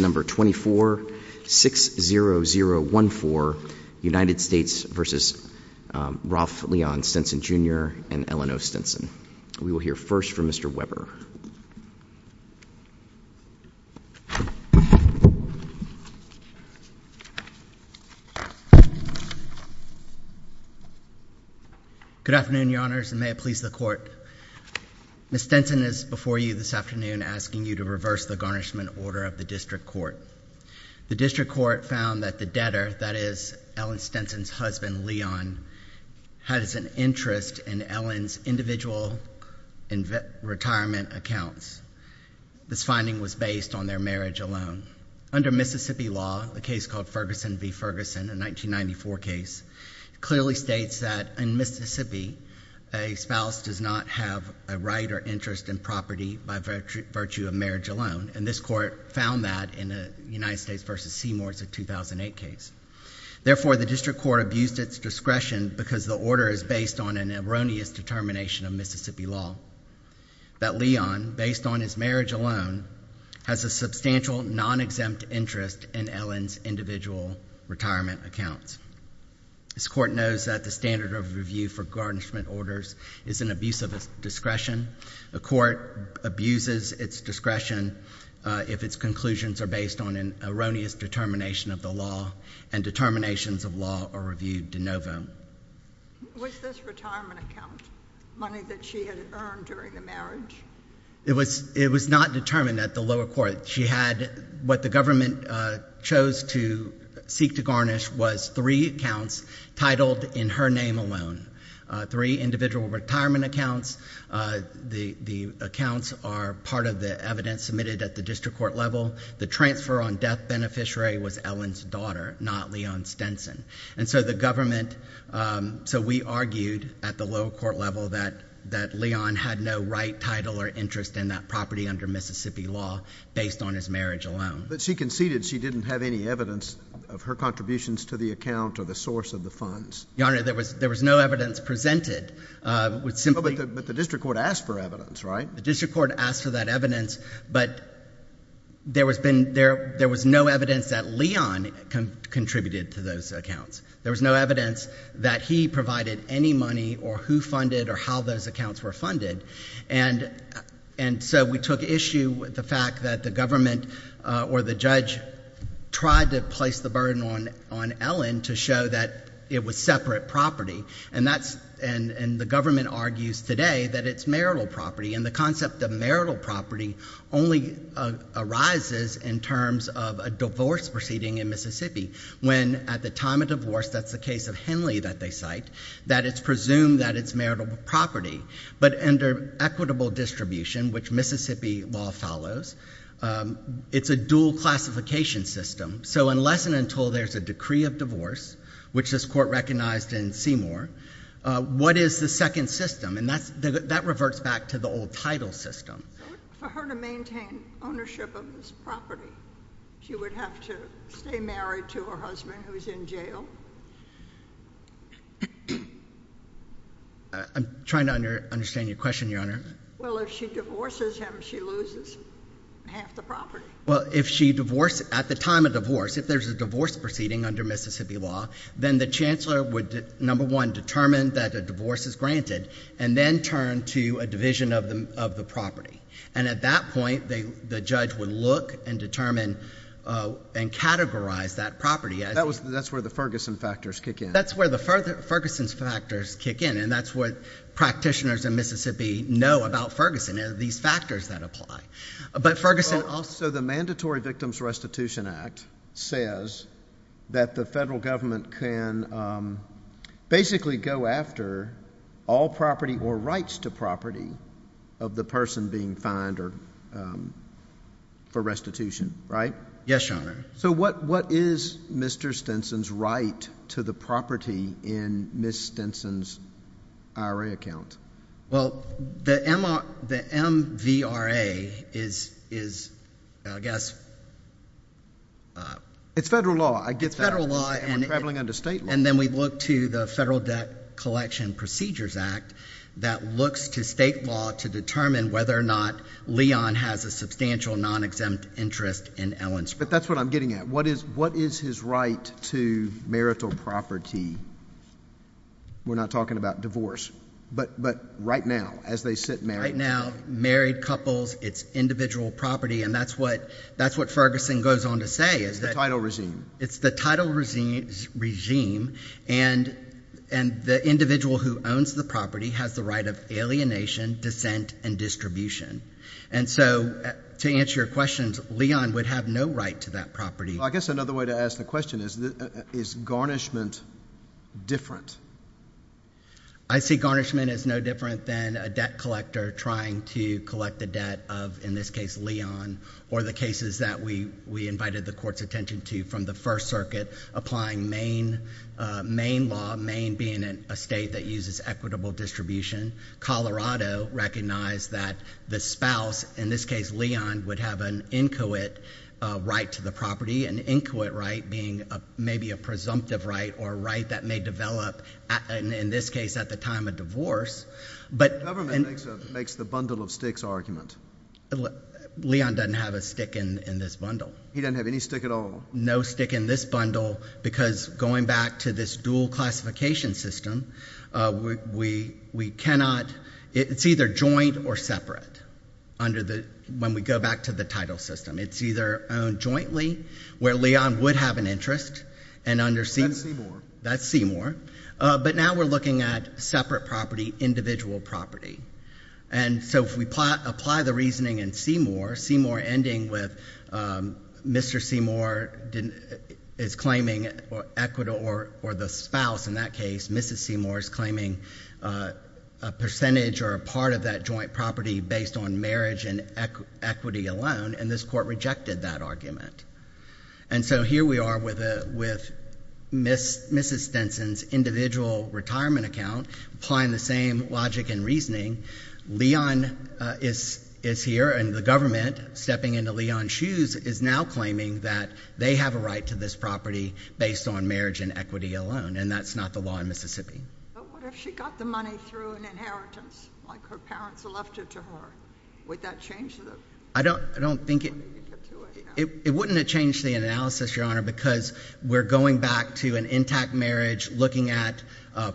No. 2460014 United States v. Ralph Leon Stinson Jr. and Eleanor Stinson. We will hear first from Mr. Weber. Good afternoon, Your Honors, and may it please the Court. Ms. Stinson is before you this afternoon asking you to reverse the garnishment order of the District Court. The District Court found that the debtor, that is, Ellen Stinson's husband, Leon, had an interest in Ellen's individual retirement accounts. This finding was based on their marriage alone. Under Mississippi law, a case called Ferguson v. Ferguson, a 1994 case, clearly states that in Mississippi, a spouse does not have a right or interest in property by virtue of marriage alone. And this Court found that in a United States v. Seymour, it's a 2008 case. Therefore, the District Court abused its discretion because the order is based on an erroneous determination of Mississippi law, that Leon, based on his marriage alone, has a substantial non-exempt interest in Ellen's individual retirement accounts. This Court knows that the standard of review for garnishment orders is an abuse of discretion. The Court abuses its discretion if its conclusions are based on an erroneous determination of the law, and determinations of law are reviewed de novo. Was this retirement account money that she had earned during the marriage? It was not determined at the lower court. She had what the government chose to seek to garnish was three accounts titled in her name alone. Three individual retirement accounts. The accounts are part of the evidence submitted at the District Court level. The transfer on death beneficiary was Ellen's daughter, not Leon Stenson. And so the government, so we argued at the lower court level that Leon had no right, title, or interest in that property under Mississippi law based on his marriage alone. But she conceded she didn't have any evidence of her contributions to the account or the source of the funds. Your Honor, there was no evidence presented. But the District Court asked for evidence, right? The District Court asked for that evidence, but there was no evidence that Leon contributed to those accounts. There was no evidence that he provided any money or who funded or how those accounts were funded. And so we took issue with the fact that the government or the judge tried to place the burden on Ellen to show that it was separate property. And that's, and the government argues today that it's marital property. And the concept of marital property only arises in terms of a divorce proceeding in Mississippi when at the time of divorce, that's the case of Henley that they cite, that it's presumed that it's marital property. But under equitable distribution, which Mississippi law follows, it's a dual classification system. So unless and until there's a decree of divorce, which this Court recognized in Seymour, what is the second system? And that reverts back to the old title system. So for her to maintain ownership of this property, she would have to stay married to her husband who's in jail? I'm trying to understand your question, Your Honor. Well, if she divorces him, she loses half the property. Well, if she divorces, at the time of divorce, if there's a divorce proceeding under Mississippi law, then the chancellor would, number one, determine that a divorce is granted and then turn to a division of the property. And at that point, the judge would look and determine and categorize that property. That's where the Ferguson factors kick in. That's where the Ferguson factors kick in. And that's what practitioners in Mississippi know about Ferguson, these factors that apply. But Ferguson also— So the Mandatory Victims Restitution Act says that the federal government can basically go after all property or rights to property of the person being fined for restitution, right? Yes, Your Honor. So what is Mr. Stinson's right to the property in Ms. Stinson's IRA account? Well, the MVRA is, I guess— It's federal law. I get that. It's federal law. And we're traveling under state law. And then we look to the Federal Debt Collection Procedures Act that looks to state law to determine whether or not Leon has a substantial non-exempt interest in Ellen's property. But that's what I'm getting at. What is his right to marital property? We're not talking about divorce. But right now, as they sit married— Right now, married couples, it's individual property. And that's what Ferguson goes on to say is that— It's the title regime. It's the title regime. And the individual who owns the property has the right of alienation, dissent, and distribution. And so, to answer your question, Leon would have no right to that property. Well, I guess another way to ask the question is, is garnishment different? I see garnishment as no different than a debt collector trying to collect the debt of, in this case, Leon or the cases that we invited the court's attention to from the First Circuit applying Maine law, Maine being a state that uses equitable distribution. Colorado recognized that the spouse, in this case, Leon, would have an inquit right to the property, an inquit right being maybe a presumptive right or a right that may develop, in this case, at the time of divorce. But— The government makes the bundle of sticks argument. Leon doesn't have a stick in this bundle. He doesn't have any stick at all. No stick in this bundle because, going back to this dual classification system, we cannot— It's either joint or separate when we go back to the title system. It's either owned jointly where Leon would have an interest and under— That's Seymour. But now we're looking at separate property, individual property. And so if we apply the reasoning in Seymour, Seymour ending with Mr. Seymour is claiming or equitable or the spouse, in that case, Mrs. Seymour, is claiming a percentage or a part of that joint property based on marriage and equity alone. And this court rejected that argument. And so here we are with Mrs. Stenson's individual retirement account applying the same logic and reasoning. Leon is here, and the government, stepping into Leon's shoes, is now claiming that they have a right to this property based on marriage and equity alone, and that's not the law in Mississippi. But what if she got the money through an inheritance, like her parents left it to her? Would that change the— I don't think it— It wouldn't have changed the analysis, Your Honor, because we're going back to an intact marriage looking at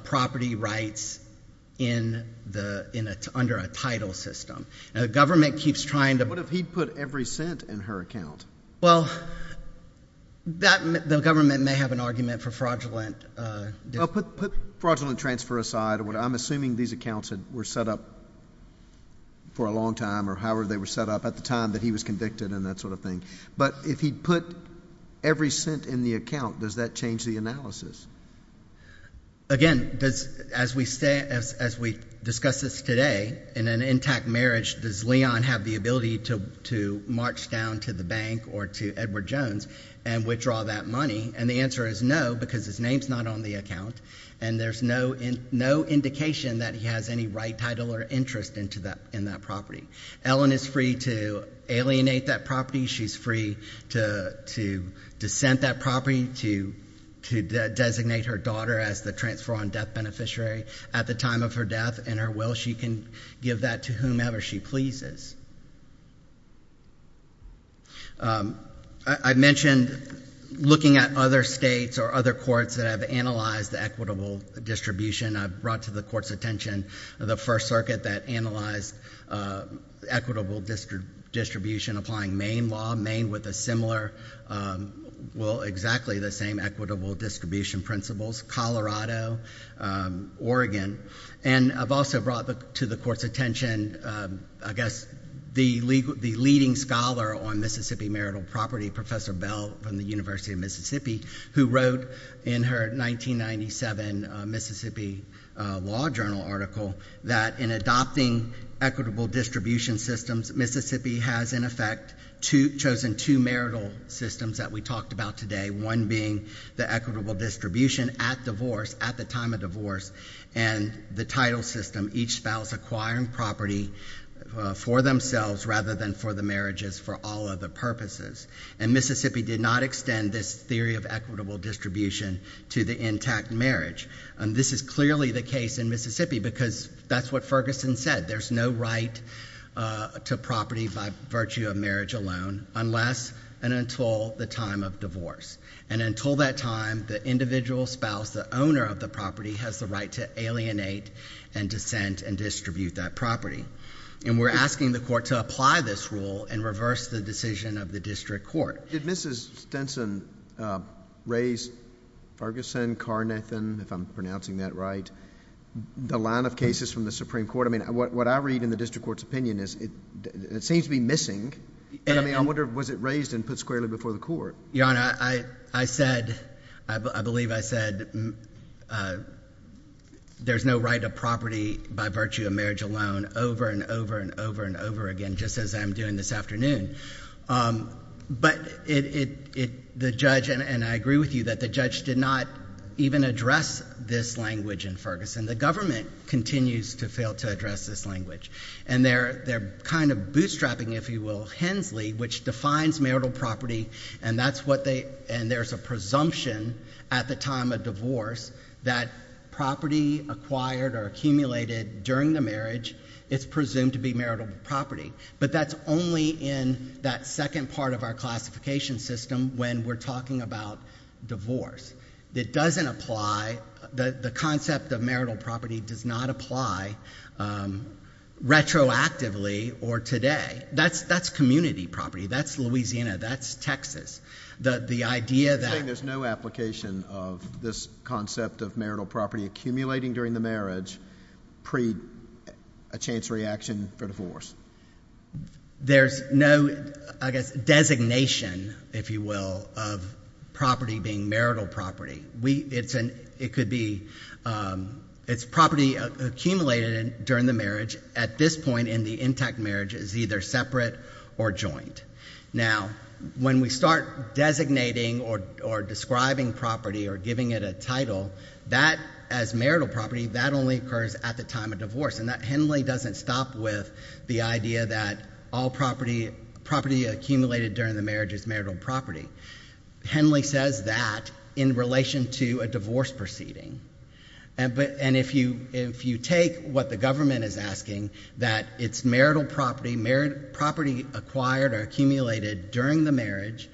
property rights under a title system. Now, the government keeps trying to— What if he put every cent in her account? Well, the government may have an argument for fraudulent— Well, put fraudulent transfer aside. I'm assuming these accounts were set up for a long time or however they were set up. At the time that he was convicted and that sort of thing. But if he put every cent in the account, does that change the analysis? Again, as we discuss this today, in an intact marriage, does Leon have the ability to march down to the bank or to Edward Jones and withdraw that money? And the answer is no, because his name's not on the account, and there's no indication that he has any right, title, or interest in that property. Ellen is free to alienate that property. She's free to dissent that property, to designate her daughter as the transfer-on-death beneficiary. At the time of her death and her will, she can give that to whomever she pleases. I mentioned looking at other states or other courts that have analyzed equitable distribution. I've brought to the Court's attention the First Circuit that analyzed equitable distribution applying Maine law. Maine with a similar—well, exactly the same equitable distribution principles. Colorado. Oregon. And I've also brought to the Court's attention, I guess, the leading scholar on Mississippi marital property, Professor Bell from the University of Mississippi, who wrote in her 1997 Mississippi Law Journal article that in adopting equitable distribution systems, Mississippi has, in effect, chosen two marital systems that we talked about today, one being the equitable distribution at divorce, at the time of divorce, and the title system, each spouse acquiring property for themselves rather than for the marriages for all other purposes. And Mississippi did not extend this theory of equitable distribution to the intact marriage. This is clearly the case in Mississippi because that's what Ferguson said. There's no right to property by virtue of marriage alone unless and until the time of And until that time, the individual spouse, the owner of the property, has the right to alienate and dissent and distribute that property. And we're asking the Court to apply this rule and reverse the decision of the District Court. Did Mrs. Stenson raise Ferguson, Carnathan, if I'm pronouncing that right, the line of cases from the Supreme Court? I mean, what I read in the District Court's opinion is it seems to be missing. And I mean, I wonder, was it raised and put squarely before the Court? Your Honor, I said—I believe I said there's no right to property by virtue of marriage alone over and over and over and over again, just as I'm doing this afternoon. But the judge—and I agree with you that the judge did not even address this language in Ferguson. The government continues to fail to address this language. And they're kind of bootstrapping, if you will, Hensley, which defines marital property. And that's what they—and there's a presumption at the time of divorce that property acquired or accumulated during the marriage, it's presumed to be marital property. But that's only in that second part of our classification system when we're talking about divorce. It doesn't apply—the concept of marital property does not apply retroactively or today. That's community property. That's Louisiana. That's Texas. The idea that— You're saying there's no application of this concept of marital property accumulating during the marriage pre a chance reaction for divorce. There's no, I guess, designation, if you will, of property being marital property. It could be—it's property accumulated during the marriage. At this point in the intact marriage, it's either separate or joint. Now when we start designating or describing property or giving it a title, that as marital property, that only occurs at the time of divorce. And Henley doesn't stop with the idea that all property accumulated during the marriage is marital property. Henley says that in relation to a divorce proceeding. And if you take what the government is asking, that it's marital property, property acquired or accumulated during the marriage,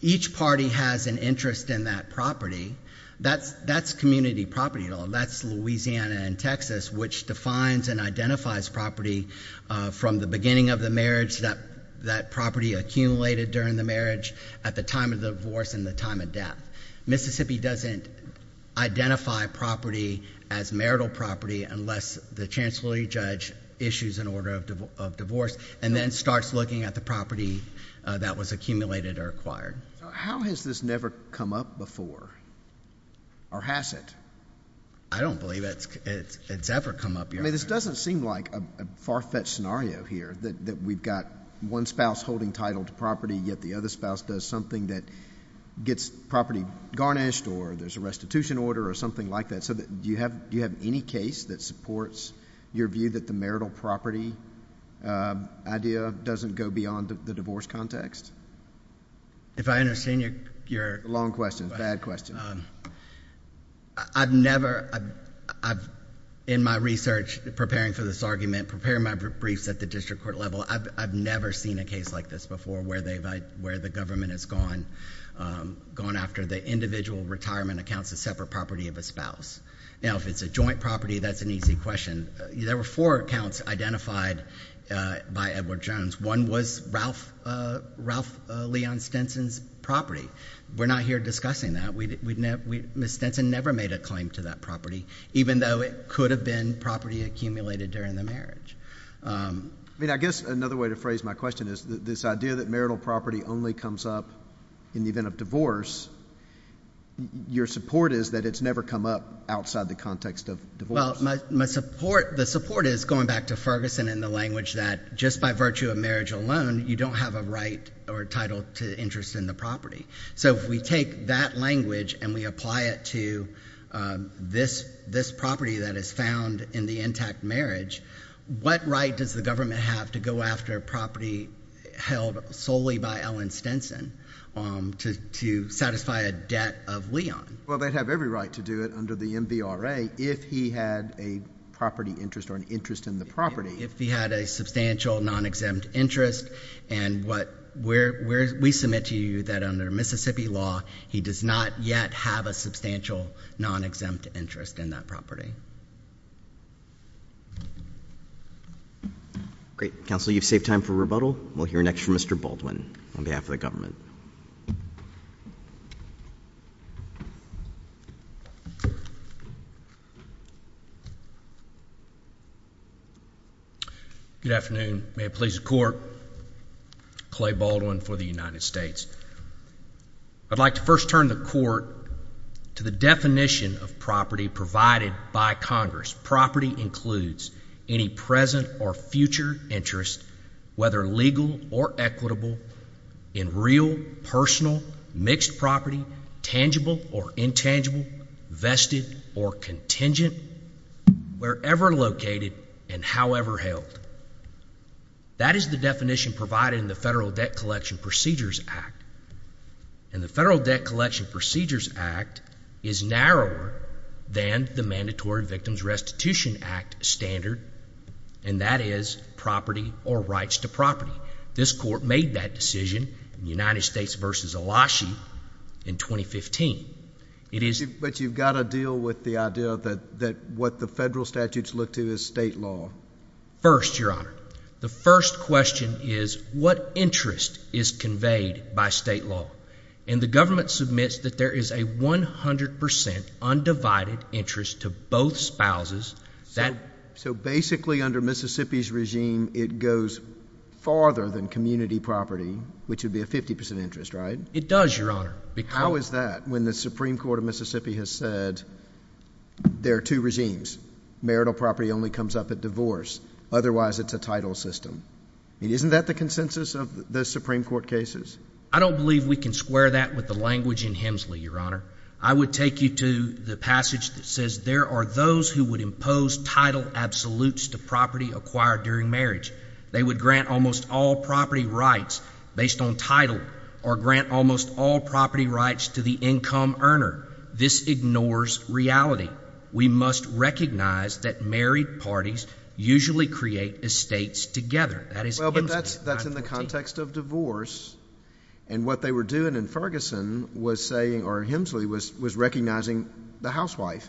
each party has an interest in that property, that's community property. That's Louisiana and Texas, which defines and identifies property from the beginning of the marriage, that property accumulated during the marriage, at the time of the divorce and the time of death. Mississippi doesn't identify property as marital property unless the chancellery judge issues an order of divorce and then starts looking at the property that was accumulated or acquired. How has this never come up before or has it? I don't believe it's ever come up here. I mean, this doesn't seem like a far-fetched scenario here that we've got one spouse holding title to property, yet the other spouse does something that gets property garnished or there's a restitution order or something like that. So do you have any case that supports your view that the marital property idea doesn't go beyond the divorce context? If I understand your... Long question. Bad question. I've never... in my research, preparing for this argument, preparing my briefs at the district court level, I've never seen a case like this before where the government has gone after the individual retirement accounts, a separate property of a spouse. Now, if it's a joint property, that's an easy question. There were four accounts identified by Edward Jones. One was Ralph Leon Stinson's property. We're not here discussing that. Ms. Stinson never made a claim to that property, even though it could have been property accumulated during the marriage. I mean, I guess another way to phrase my question is this idea that marital property only comes up in the event of divorce, your support is that it's never come up outside the context of divorce. Well, my support... the support is, going back to Ferguson and the language that just by virtue of marriage alone, you don't have a right or a title to interest in the property. So if we take that language and we apply it to this property that is found in the intact marriage, what right does the government have to go after a property held solely by Ellen Stinson to satisfy a debt of Leon? Well, they'd have every right to do it under the MVRA if he had a property interest or an interest in the property. If he had a substantial non-exempt interest and what... we submit to you that under Mississippi law, he does not yet have a substantial non-exempt interest in that property. Great. Counsel, you've saved time for rebuttal. We'll hear next from Mr. Baldwin on behalf of the government. Good afternoon. May it please the court, Clay Baldwin for the United States. I'd like to first turn the court to the definition of property provided by Congress. This clause, property, includes any present or future interest, whether legal or equitable, in real, personal, mixed property, tangible or intangible, vested or contingent, wherever located and however held. That is the definition provided in the Federal Debt Collection Procedures Act, and the Federal Victims Restitution Act standard, and that is property or rights to property. This court made that decision in United States v. Elashi in 2015. But you've got to deal with the idea that what the federal statutes look to is state law. First, Your Honor, the first question is what interest is conveyed by state law? And the government submits that there is a 100 percent undivided interest to both spouses. So basically under Mississippi's regime, it goes farther than community property, which would be a 50 percent interest, right? It does, Your Honor. How is that when the Supreme Court of Mississippi has said there are two regimes, marital property only comes up at divorce, otherwise it's a title system? Isn't that the consensus of the Supreme Court cases? I don't believe we can square that with the language in Hemsley, Your Honor. I would take you to the passage that says there are those who would impose title absolutes to property acquired during marriage. They would grant almost all property rights based on title or grant almost all property rights to the income earner. This ignores reality. We must recognize that married parties usually create estates together. Well, but that's in the context of divorce. And what they were doing in Ferguson was saying, or Hemsley was recognizing the housewife,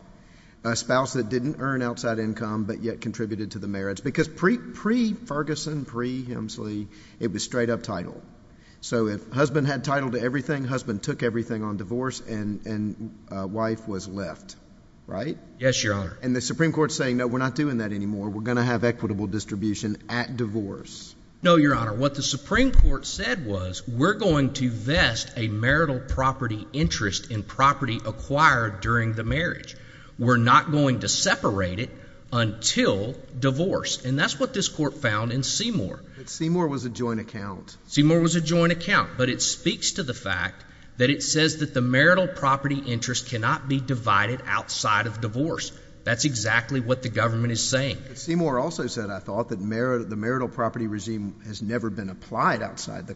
a spouse that didn't earn outside income but yet contributed to the marriage. Because pre-Ferguson, pre-Hemsley, it was straight up title. So if husband had title to everything, husband took everything on divorce and wife was left, right? Yes, Your Honor. And the Supreme Court's saying, no, we're not doing that anymore. We're going to have equitable distribution at divorce. No, Your Honor. What the Supreme Court said was, we're going to vest a marital property interest in property acquired during the marriage. We're not going to separate it until divorce. And that's what this court found in Seymour. Seymour was a joint account. Seymour was a joint account. But it speaks to the fact that it says that the marital property interest cannot be divided outside of divorce. That's exactly what the government is saying. But Seymour also said, I thought, that the marital property regime has never been applied outside the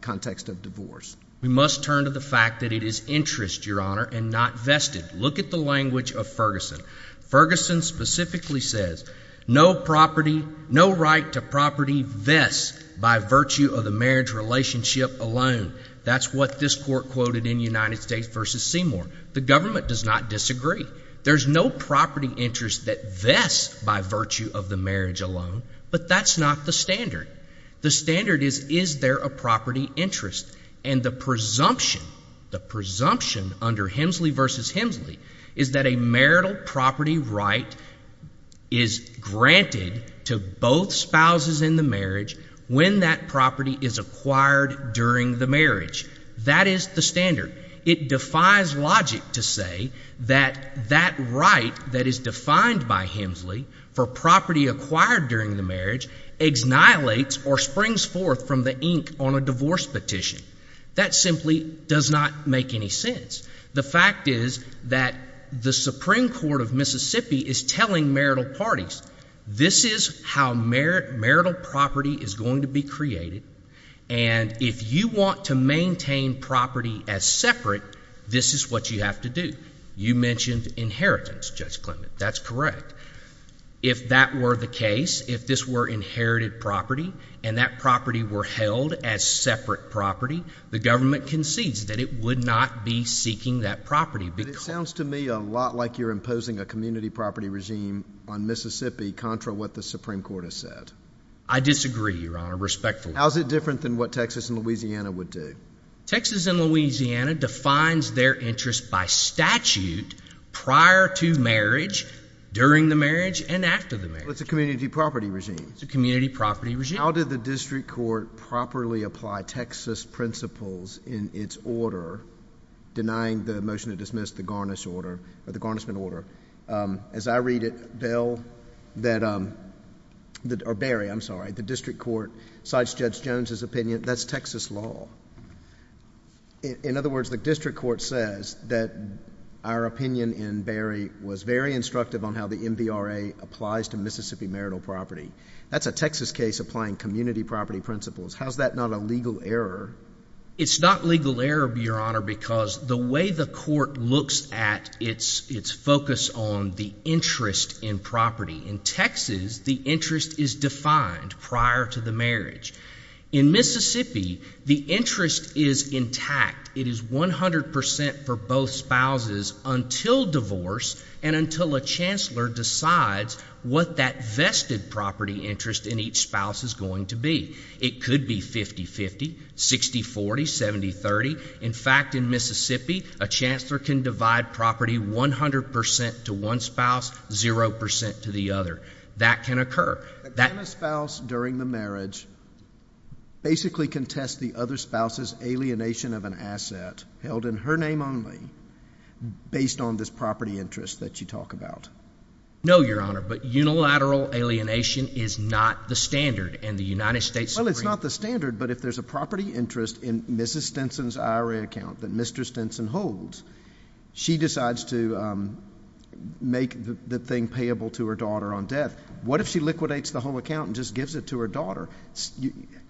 context of divorce. We must turn to the fact that it is interest, Your Honor, and not vested. Look at the language of Ferguson. Ferguson specifically says, no property, no right to property vests by virtue of the marriage relationship alone. That's what this court quoted in United States v. Seymour. The government does not disagree. There's no property interest that vests by virtue of the marriage alone. But that's not the standard. The standard is, is there a property interest? And the presumption, the presumption under Hemsley v. Hemsley is that a marital property right is granted to both spouses in the marriage when that property is acquired during the marriage. That is the standard. It defies logic to say that that right that is defined by Hemsley for property acquired during the marriage exnihilates or springs forth from the ink on a divorce petition. That simply does not make any sense. The fact is that the Supreme Court of Mississippi is telling marital parties, this is how marital property is going to be created. And if you want to maintain property as separate, this is what you have to do. You mentioned inheritance, Judge Clement. That's correct. If that were the case, if this were inherited property and that property were held as separate property, the government concedes that it would not be seeking that property. But it sounds to me a lot like you're imposing a community property regime on Mississippi contra what the Supreme Court has said. I disagree, Your Honor, respectfully. How is it different than what Texas and Louisiana would do? Texas and Louisiana defines their interest by statute prior to marriage, during the marriage, and after the marriage. It's a community property regime. It's a community property regime. How did the district court properly apply Texas principles in its order denying the motion to dismiss the Garnish order or the Garnishment order? As I read it, Barry, I'm sorry, the district court cites Judge Jones's opinion. That's Texas law. In other words, the district court says that our opinion in Barry was very instructive on how the MVRA applies to Mississippi marital property. That's a Texas case applying community property principles. How is that not a legal error? It's not legal error, Your Honor, because the way the court looks at its focus on the interest in property, in Texas, the interest is defined prior to the marriage. In Mississippi, the interest is intact. It is 100% for both spouses until divorce and until a chancellor decides what that vested property interest in each spouse is going to be. It could be 50-50, 60-40, 70-30. In fact, in Mississippi, a chancellor can divide property 100% to one spouse, 0% to the other. That can occur. Can a spouse during the marriage basically contest the other spouse's alienation of an asset held in her name only based on this property interest that you talk about? No, Your Honor, but unilateral alienation is not the standard. Well, it's not the standard, but if there's a property interest in Mrs. Stinson's IRA account that Mr. Stinson holds, she decides to make the thing payable to her daughter on death. What if she liquidates the whole account and just gives it to her daughter?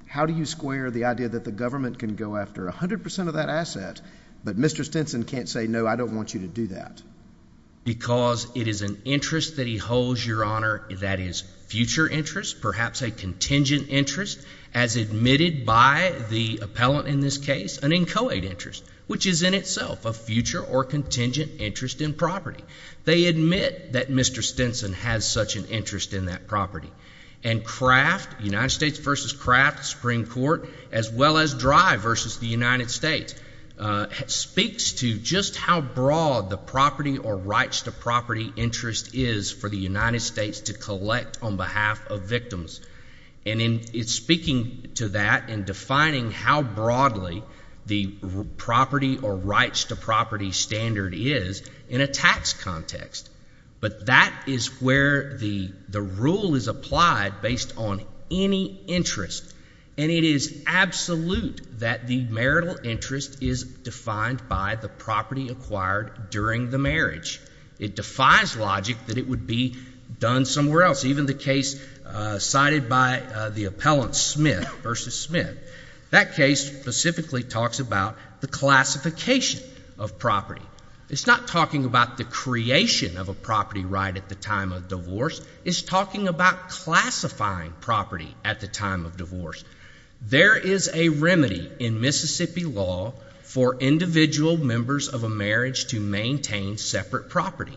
How do you square the idea that the government can go after 100% of that asset, but Mr. Stinson can't say, no, I don't want you to do that? Because it is an interest that he holds, Your Honor, that is future interest, perhaps a contingent interest, as admitted by the appellant in this case, an inchoate interest, which is in itself a future or contingent interest in property. They admit that Mr. Stinson has such an interest in that property. And Kraft, United States v. Kraft, Supreme Court, as well as Dry v. the United States, speaks to just how broad the property or rights to property interest is for the United States to collect on behalf of victims. And in speaking to that and defining how broadly the property or rights to property standard is in a tax context. But that is where the rule is applied based on any interest, and it is absolute that the marital interest is defined by the property acquired during the marriage. It defies logic that it would be done somewhere else. Even the case cited by the appellant Smith v. Smith, that case specifically talks about the classification of property. It's not talking about the creation of a property right at the time of divorce. It's talking about classifying property at the time of divorce. There is a remedy in Mississippi law for individual members of a marriage to maintain separate property.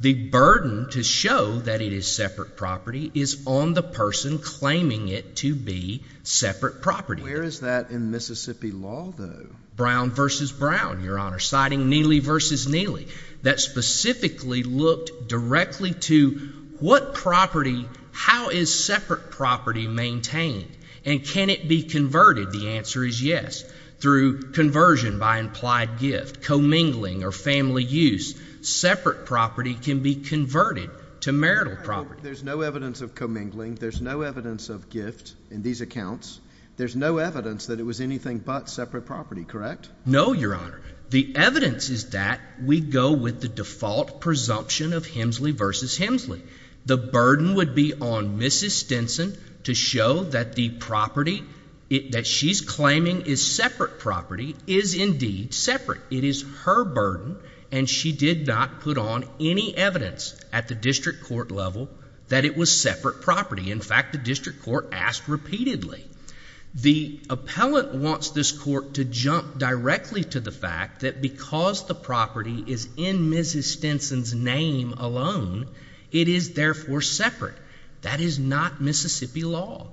The burden to show that it is separate property is on the person claiming it to be separate property. Where is that in Mississippi law, though? Brown v. Brown, Your Honor, citing Neely v. Neely, that specifically looked directly to what property, how is separate property maintained, and can it be converted? The answer is yes. Through conversion by implied gift, commingling, or family use, separate property can be converted to marital property. There's no evidence of commingling. There's no evidence of gift in these accounts. There's no evidence that it was anything but separate property, correct? No, Your Honor. The evidence is that we go with the default presumption of Hemsley v. Hemsley. The burden would be on Mrs. Stinson to show that the property that she's claiming is separate property is indeed separate. It is her burden, and she did not put on any evidence at the district court level that it was separate property. In fact, the district court asked repeatedly. The appellant wants this court to jump directly to the fact that because the property is in Mrs. Stinson's name alone, it is therefore separate. That is not Mississippi law.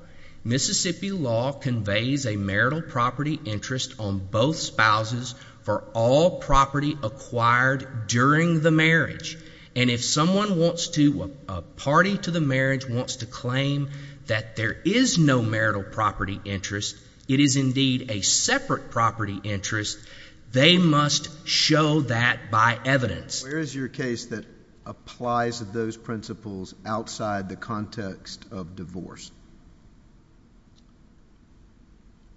Mississippi law conveys a marital property interest on both spouses for all property acquired during the marriage, and if someone wants to, a party to the marriage wants to claim that there is no marital property interest, it is indeed a separate property interest, they must show that by evidence. Where is your case that applies those principles outside the context of divorce?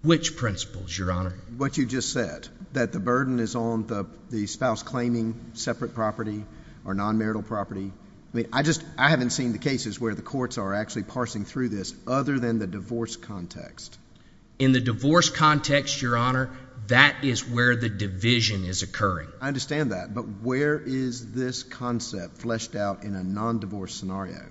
Which principles, Your Honor? What you just said, that the burden is on the spouse claiming separate property or non-marital property. I mean, I haven't seen the cases where the courts are actually parsing through this other than the divorce context. In the divorce context, Your Honor, that is where the division is occurring. I understand that, but where is this concept fleshed out in a non-divorce scenario?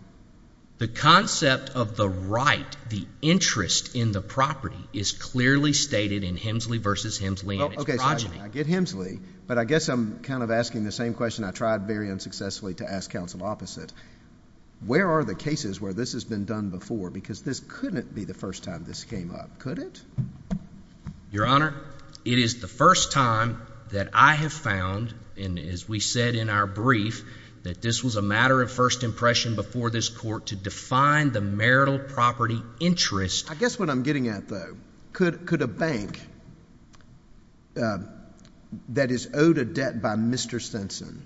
The concept of the right, the interest in the property, is clearly stated in Hemsley v. Hemsley and its progeny. Okay, so I get Hemsley, but I guess I'm kind of asking the same question I tried very unsuccessfully to ask counsel opposite. Where are the cases where this has been done before? Because this couldn't be the first time this came up, could it? Your Honor, it is the first time that I have found, and as we said in our brief, that this was a matter of first impression before this court to define the marital property interest. I guess what I'm getting at, though, could a bank that is owed a debt by Mr. Stinson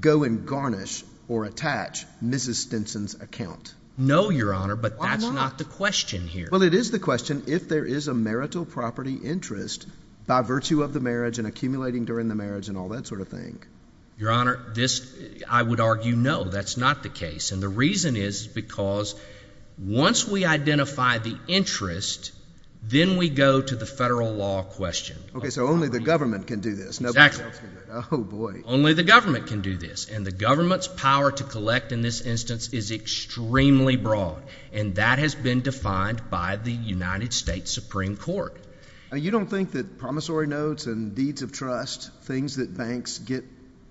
go and garnish or attach Mrs. Stinson's account? No, Your Honor, but that's not the question here. Well, it is the question if there is a marital property interest by virtue of the marriage and accumulating during the marriage and all that sort of thing. Your Honor, I would argue no, that's not the case, and the reason is because once we identify the interest, then we go to the federal law question. Okay, so only the government can do this. Exactly. Oh, boy. Only the government can do this, and the government's power to collect in this instance is extremely broad, and that has been defined by the United States Supreme Court. You don't think that promissory notes and deeds of trust, things that banks get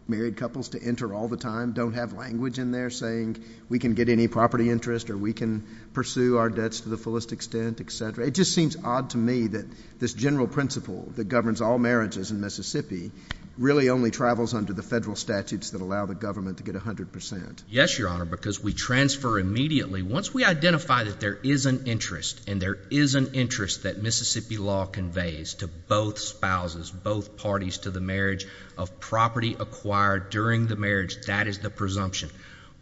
married couples to enter all the time, don't have language in there saying we can get any property interest or we can pursue our debts to the fullest extent, et cetera? It just seems odd to me that this general principle that governs all marriages in Mississippi really only travels under the federal statutes that allow the government to get 100 percent. Yes, Your Honor, because we transfer immediately. Once we identify that there is an interest, and there is an interest that Mississippi law conveys to both spouses, both parties to the marriage of property acquired during the marriage, that is the presumption.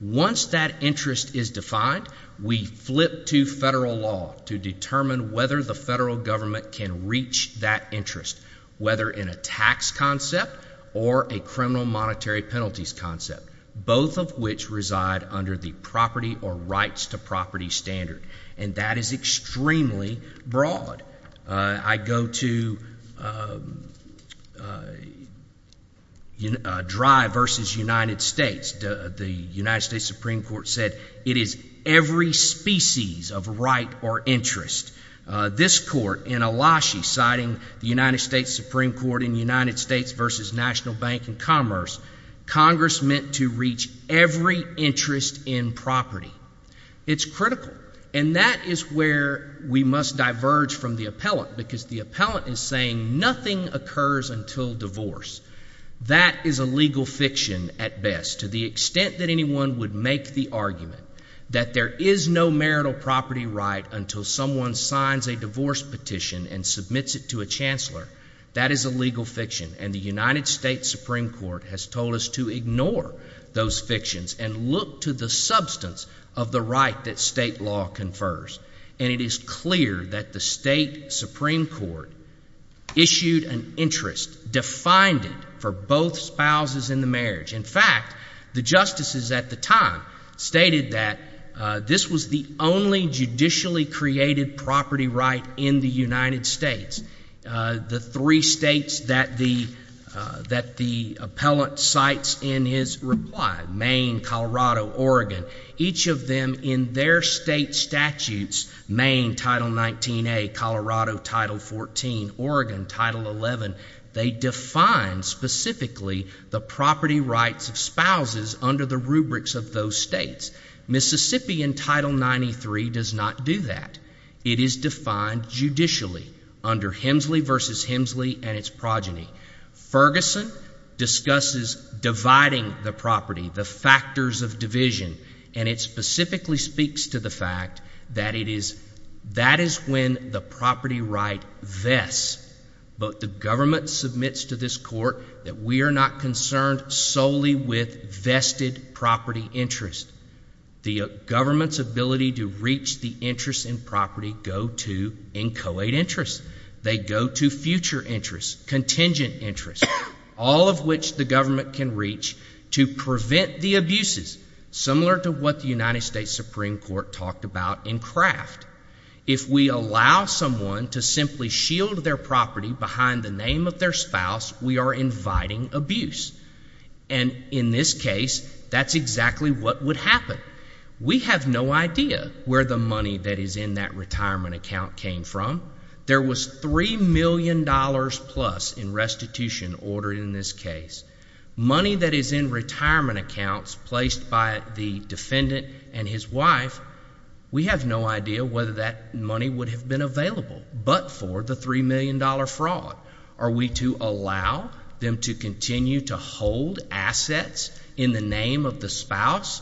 Once that interest is defined, we flip to federal law to determine whether the federal government can reach that interest, whether in a tax concept or a criminal monetary penalties concept, both of which reside under the property or rights to property standard, and that is extremely broad. I go to Dry versus United States. The United States Supreme Court said it is every species of right or interest. This court in Elashi, citing the United States Supreme Court in United States versus National Bank and Commerce, Congress meant to reach every interest in property. It's critical, and that is where we must diverge from the appellant, because the appellant is saying nothing occurs until divorce. That is a legal fiction at best. To the extent that anyone would make the argument that there is no marital property right until someone signs a divorce petition and submits it to a chancellor, that is a legal fiction, and the United States Supreme Court has told us to ignore those fictions and look to the substance of the right that state law confers. And it is clear that the state Supreme Court issued an interest, defined it for both spouses in the marriage. In fact, the justices at the time stated that this was the only judicially created property right in the United States. The three states that the appellant cites in his reply, Maine, Colorado, Oregon, each of them in their state statutes, Maine, Title 19A, Colorado, Title 14, Oregon, Title 11, they define specifically the property rights of spouses under the rubrics of those states. Mississippi in Title 93 does not do that. It is defined judicially under Hemsley v. Hemsley and its progeny. Ferguson discusses dividing the property, the factors of division, and it specifically speaks to the fact that it is, that is when the property right vests, but the government submits to this court that we are not concerned solely with vested property interest. The government's ability to reach the interest in property go to inchoate interest. They go to future interest, contingent interest, all of which the government can reach to prevent the abuses, similar to what the United States Supreme Court talked about in Kraft. If we allow someone to simply shield their property behind the name of their spouse, we are inviting abuse. And in this case, that's exactly what would happen. We have no idea where the money that is in that retirement account came from. There was $3 million plus in restitution ordered in this case. Money that is in retirement accounts placed by the defendant and his wife, we have no idea whether that money would have been available but for the $3 million fraud. Are we to allow them to continue to hold assets in the name of the spouse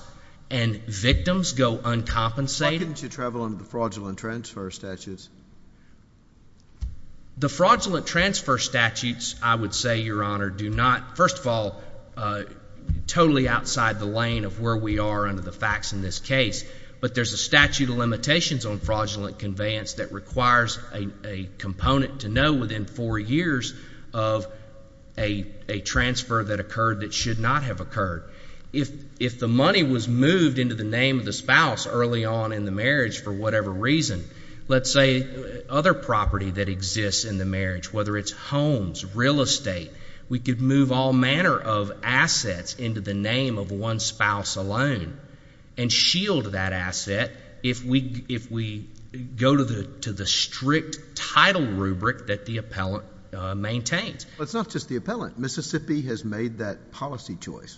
and victims go uncompensated? Why couldn't you travel under the fraudulent transfer statutes? The fraudulent transfer statutes, I would say, Your Honor, do not, first of all, totally outside the lane of where we are under the facts in this case. But there's a statute of limitations on fraudulent conveyance that requires a component to know within four years of a transfer that occurred that should not have occurred. If the money was moved into the name of the spouse early on in the marriage for whatever reason, let's say other property that exists in the marriage, whether it's homes, real estate, we could move all manner of assets into the name of one spouse alone and shield that asset if we go to the strict title rubric that the appellant maintains. It's not just the appellant. Mississippi has made that policy choice.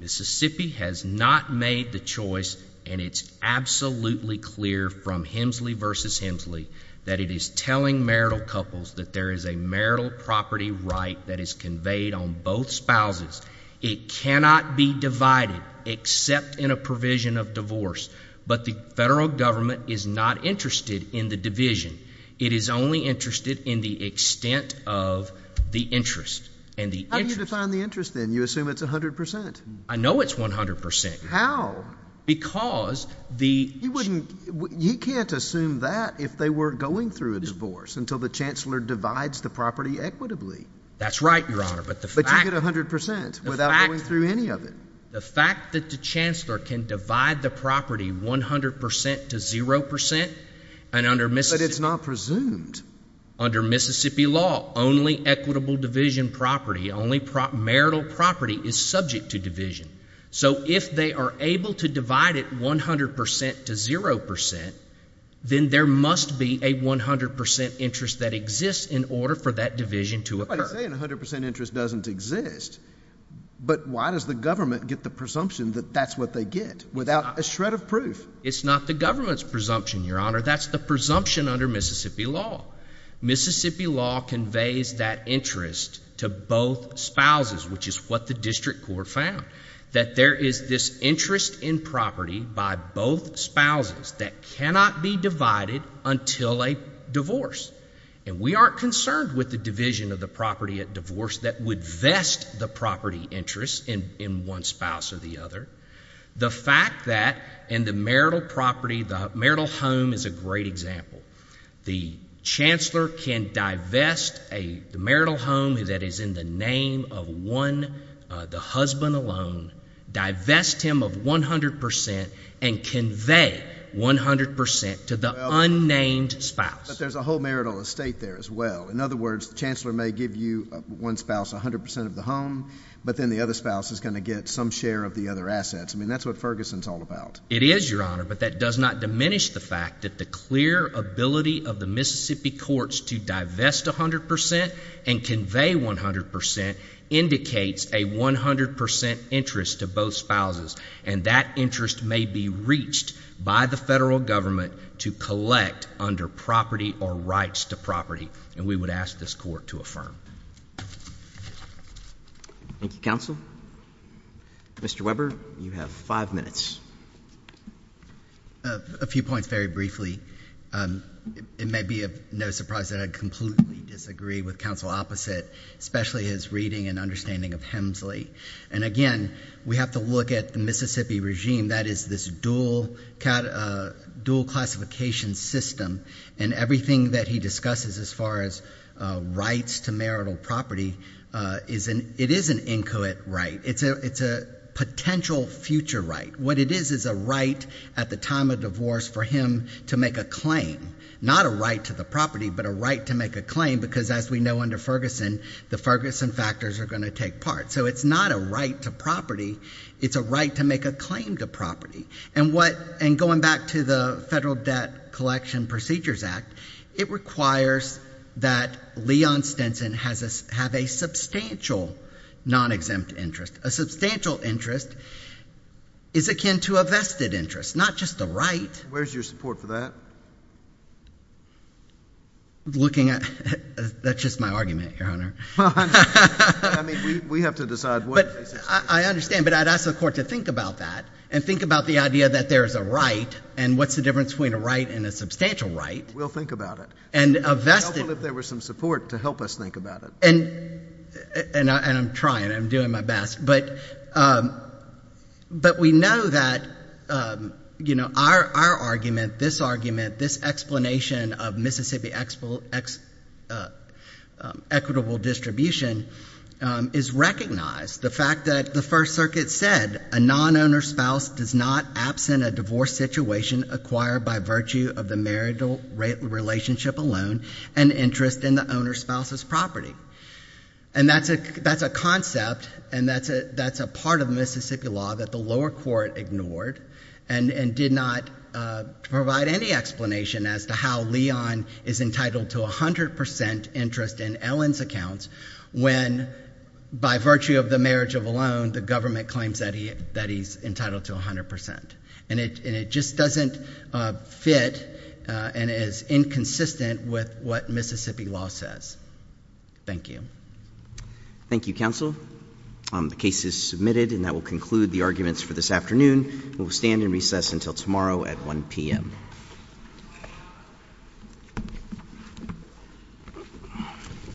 Mississippi has not made the choice and it's absolutely clear from Hemsley v. Hemsley that it is telling marital couples that there is a marital property right that is conveyed on both spouses. It cannot be divided except in a provision of divorce. But the federal government is not interested in the division. It is only interested in the extent of the interest. And the interest — How do you define the interest, then? You assume it's 100 percent. I know it's 100 percent. How? Because the — He wouldn't — he can't assume that if they were going through a divorce, until the chancellor divides the property equitably. That's right, Your Honor. But the fact — The fact — Without going through any of it. The fact that the chancellor can divide the property 100 percent to 0 percent and under Mississippi — But it's not presumed. Under Mississippi law, only equitable division property, only marital property is subject to division. So if they are able to divide it 100 percent to 0 percent, then there must be a 100 percent interest that exists in order for that division to occur. I'm not saying 100 percent interest doesn't exist. But why does the government get the presumption that that's what they get, without a shred of proof? It's not the government's presumption, Your Honor. That's the presumption under Mississippi law. Mississippi law conveys that interest to both spouses, which is what the district court found — that there is this interest in property by both spouses that cannot be divided until a divorce. And we aren't concerned with the division of the property at divorce that would vest the property interest in one spouse or the other. The fact that in the marital property, the marital home is a great example. The chancellor can divest a marital home that is in the name of one — the husband alone, divest him of 100 percent, and convey 100 percent to the unnamed spouse. But there's a whole marital estate there as well. In other words, the chancellor may give you, one spouse, 100 percent of the home, but then the other spouse is going to get some share of the other assets. I mean, that's what Ferguson's all about. It is, Your Honor. But that does not diminish the fact that the clear ability of the Mississippi courts to divest 100 percent and convey 100 percent indicates a 100 percent interest to both spouses. And that interest may be reached by the federal government to collect under property or rights to property. And we would ask this Court to affirm. Thank you, counsel. Mr. Weber, you have five minutes. A few points very briefly. It may be of no surprise that I completely disagree with counsel opposite, especially his reading and understanding of Hemsley. And again, we have to look at the Mississippi regime. That is this dual classification system. And everything that he discusses as far as rights to marital property, it is an inchoate right. It's a potential future right. What it is is a right at the time of divorce for him to make a claim. Not a right to the property, but a right to make a claim, because as we know under Ferguson, the Ferguson factors are going to take part. So it's not a right to property. It's a right to make a claim to property. And what, and going back to the Federal Debt Collection Procedures Act, it requires that Leon Stinson have a substantial non-exempt interest. A substantial interest is akin to a vested interest, not just a right. Where's your support for that? Looking at, that's just my argument, Your Honor. Well, I mean, we have to decide what the case is. But I understand, but I'd ask the Court to think about that and think about the idea that there is a right and what's the difference between a right and a substantial right. We'll think about it. And a vested. It would be helpful if there was some support to help us think about it. And I'm trying, I'm doing my best, but we know that, you know, our argument, this argument, this explanation of Mississippi equitable distribution is recognized. The fact that the First Circuit said a non-owner spouse does not absent a divorce situation acquired by virtue of the marital relationship alone and interest in the owner spouse's property. And that's a concept and that's a part of Mississippi law that the lower court ignored and did not provide any explanation as to how Leon is entitled to 100% interest in Ellen's accounts when, by virtue of the marriage of a loan, the government claims that he's entitled to 100%. And it just doesn't fit and is inconsistent with what Mississippi law says. Thank you. Thank you, counsel. The case is submitted and that will conclude the arguments for this afternoon. We will stand in recess until tomorrow at 1 p.m.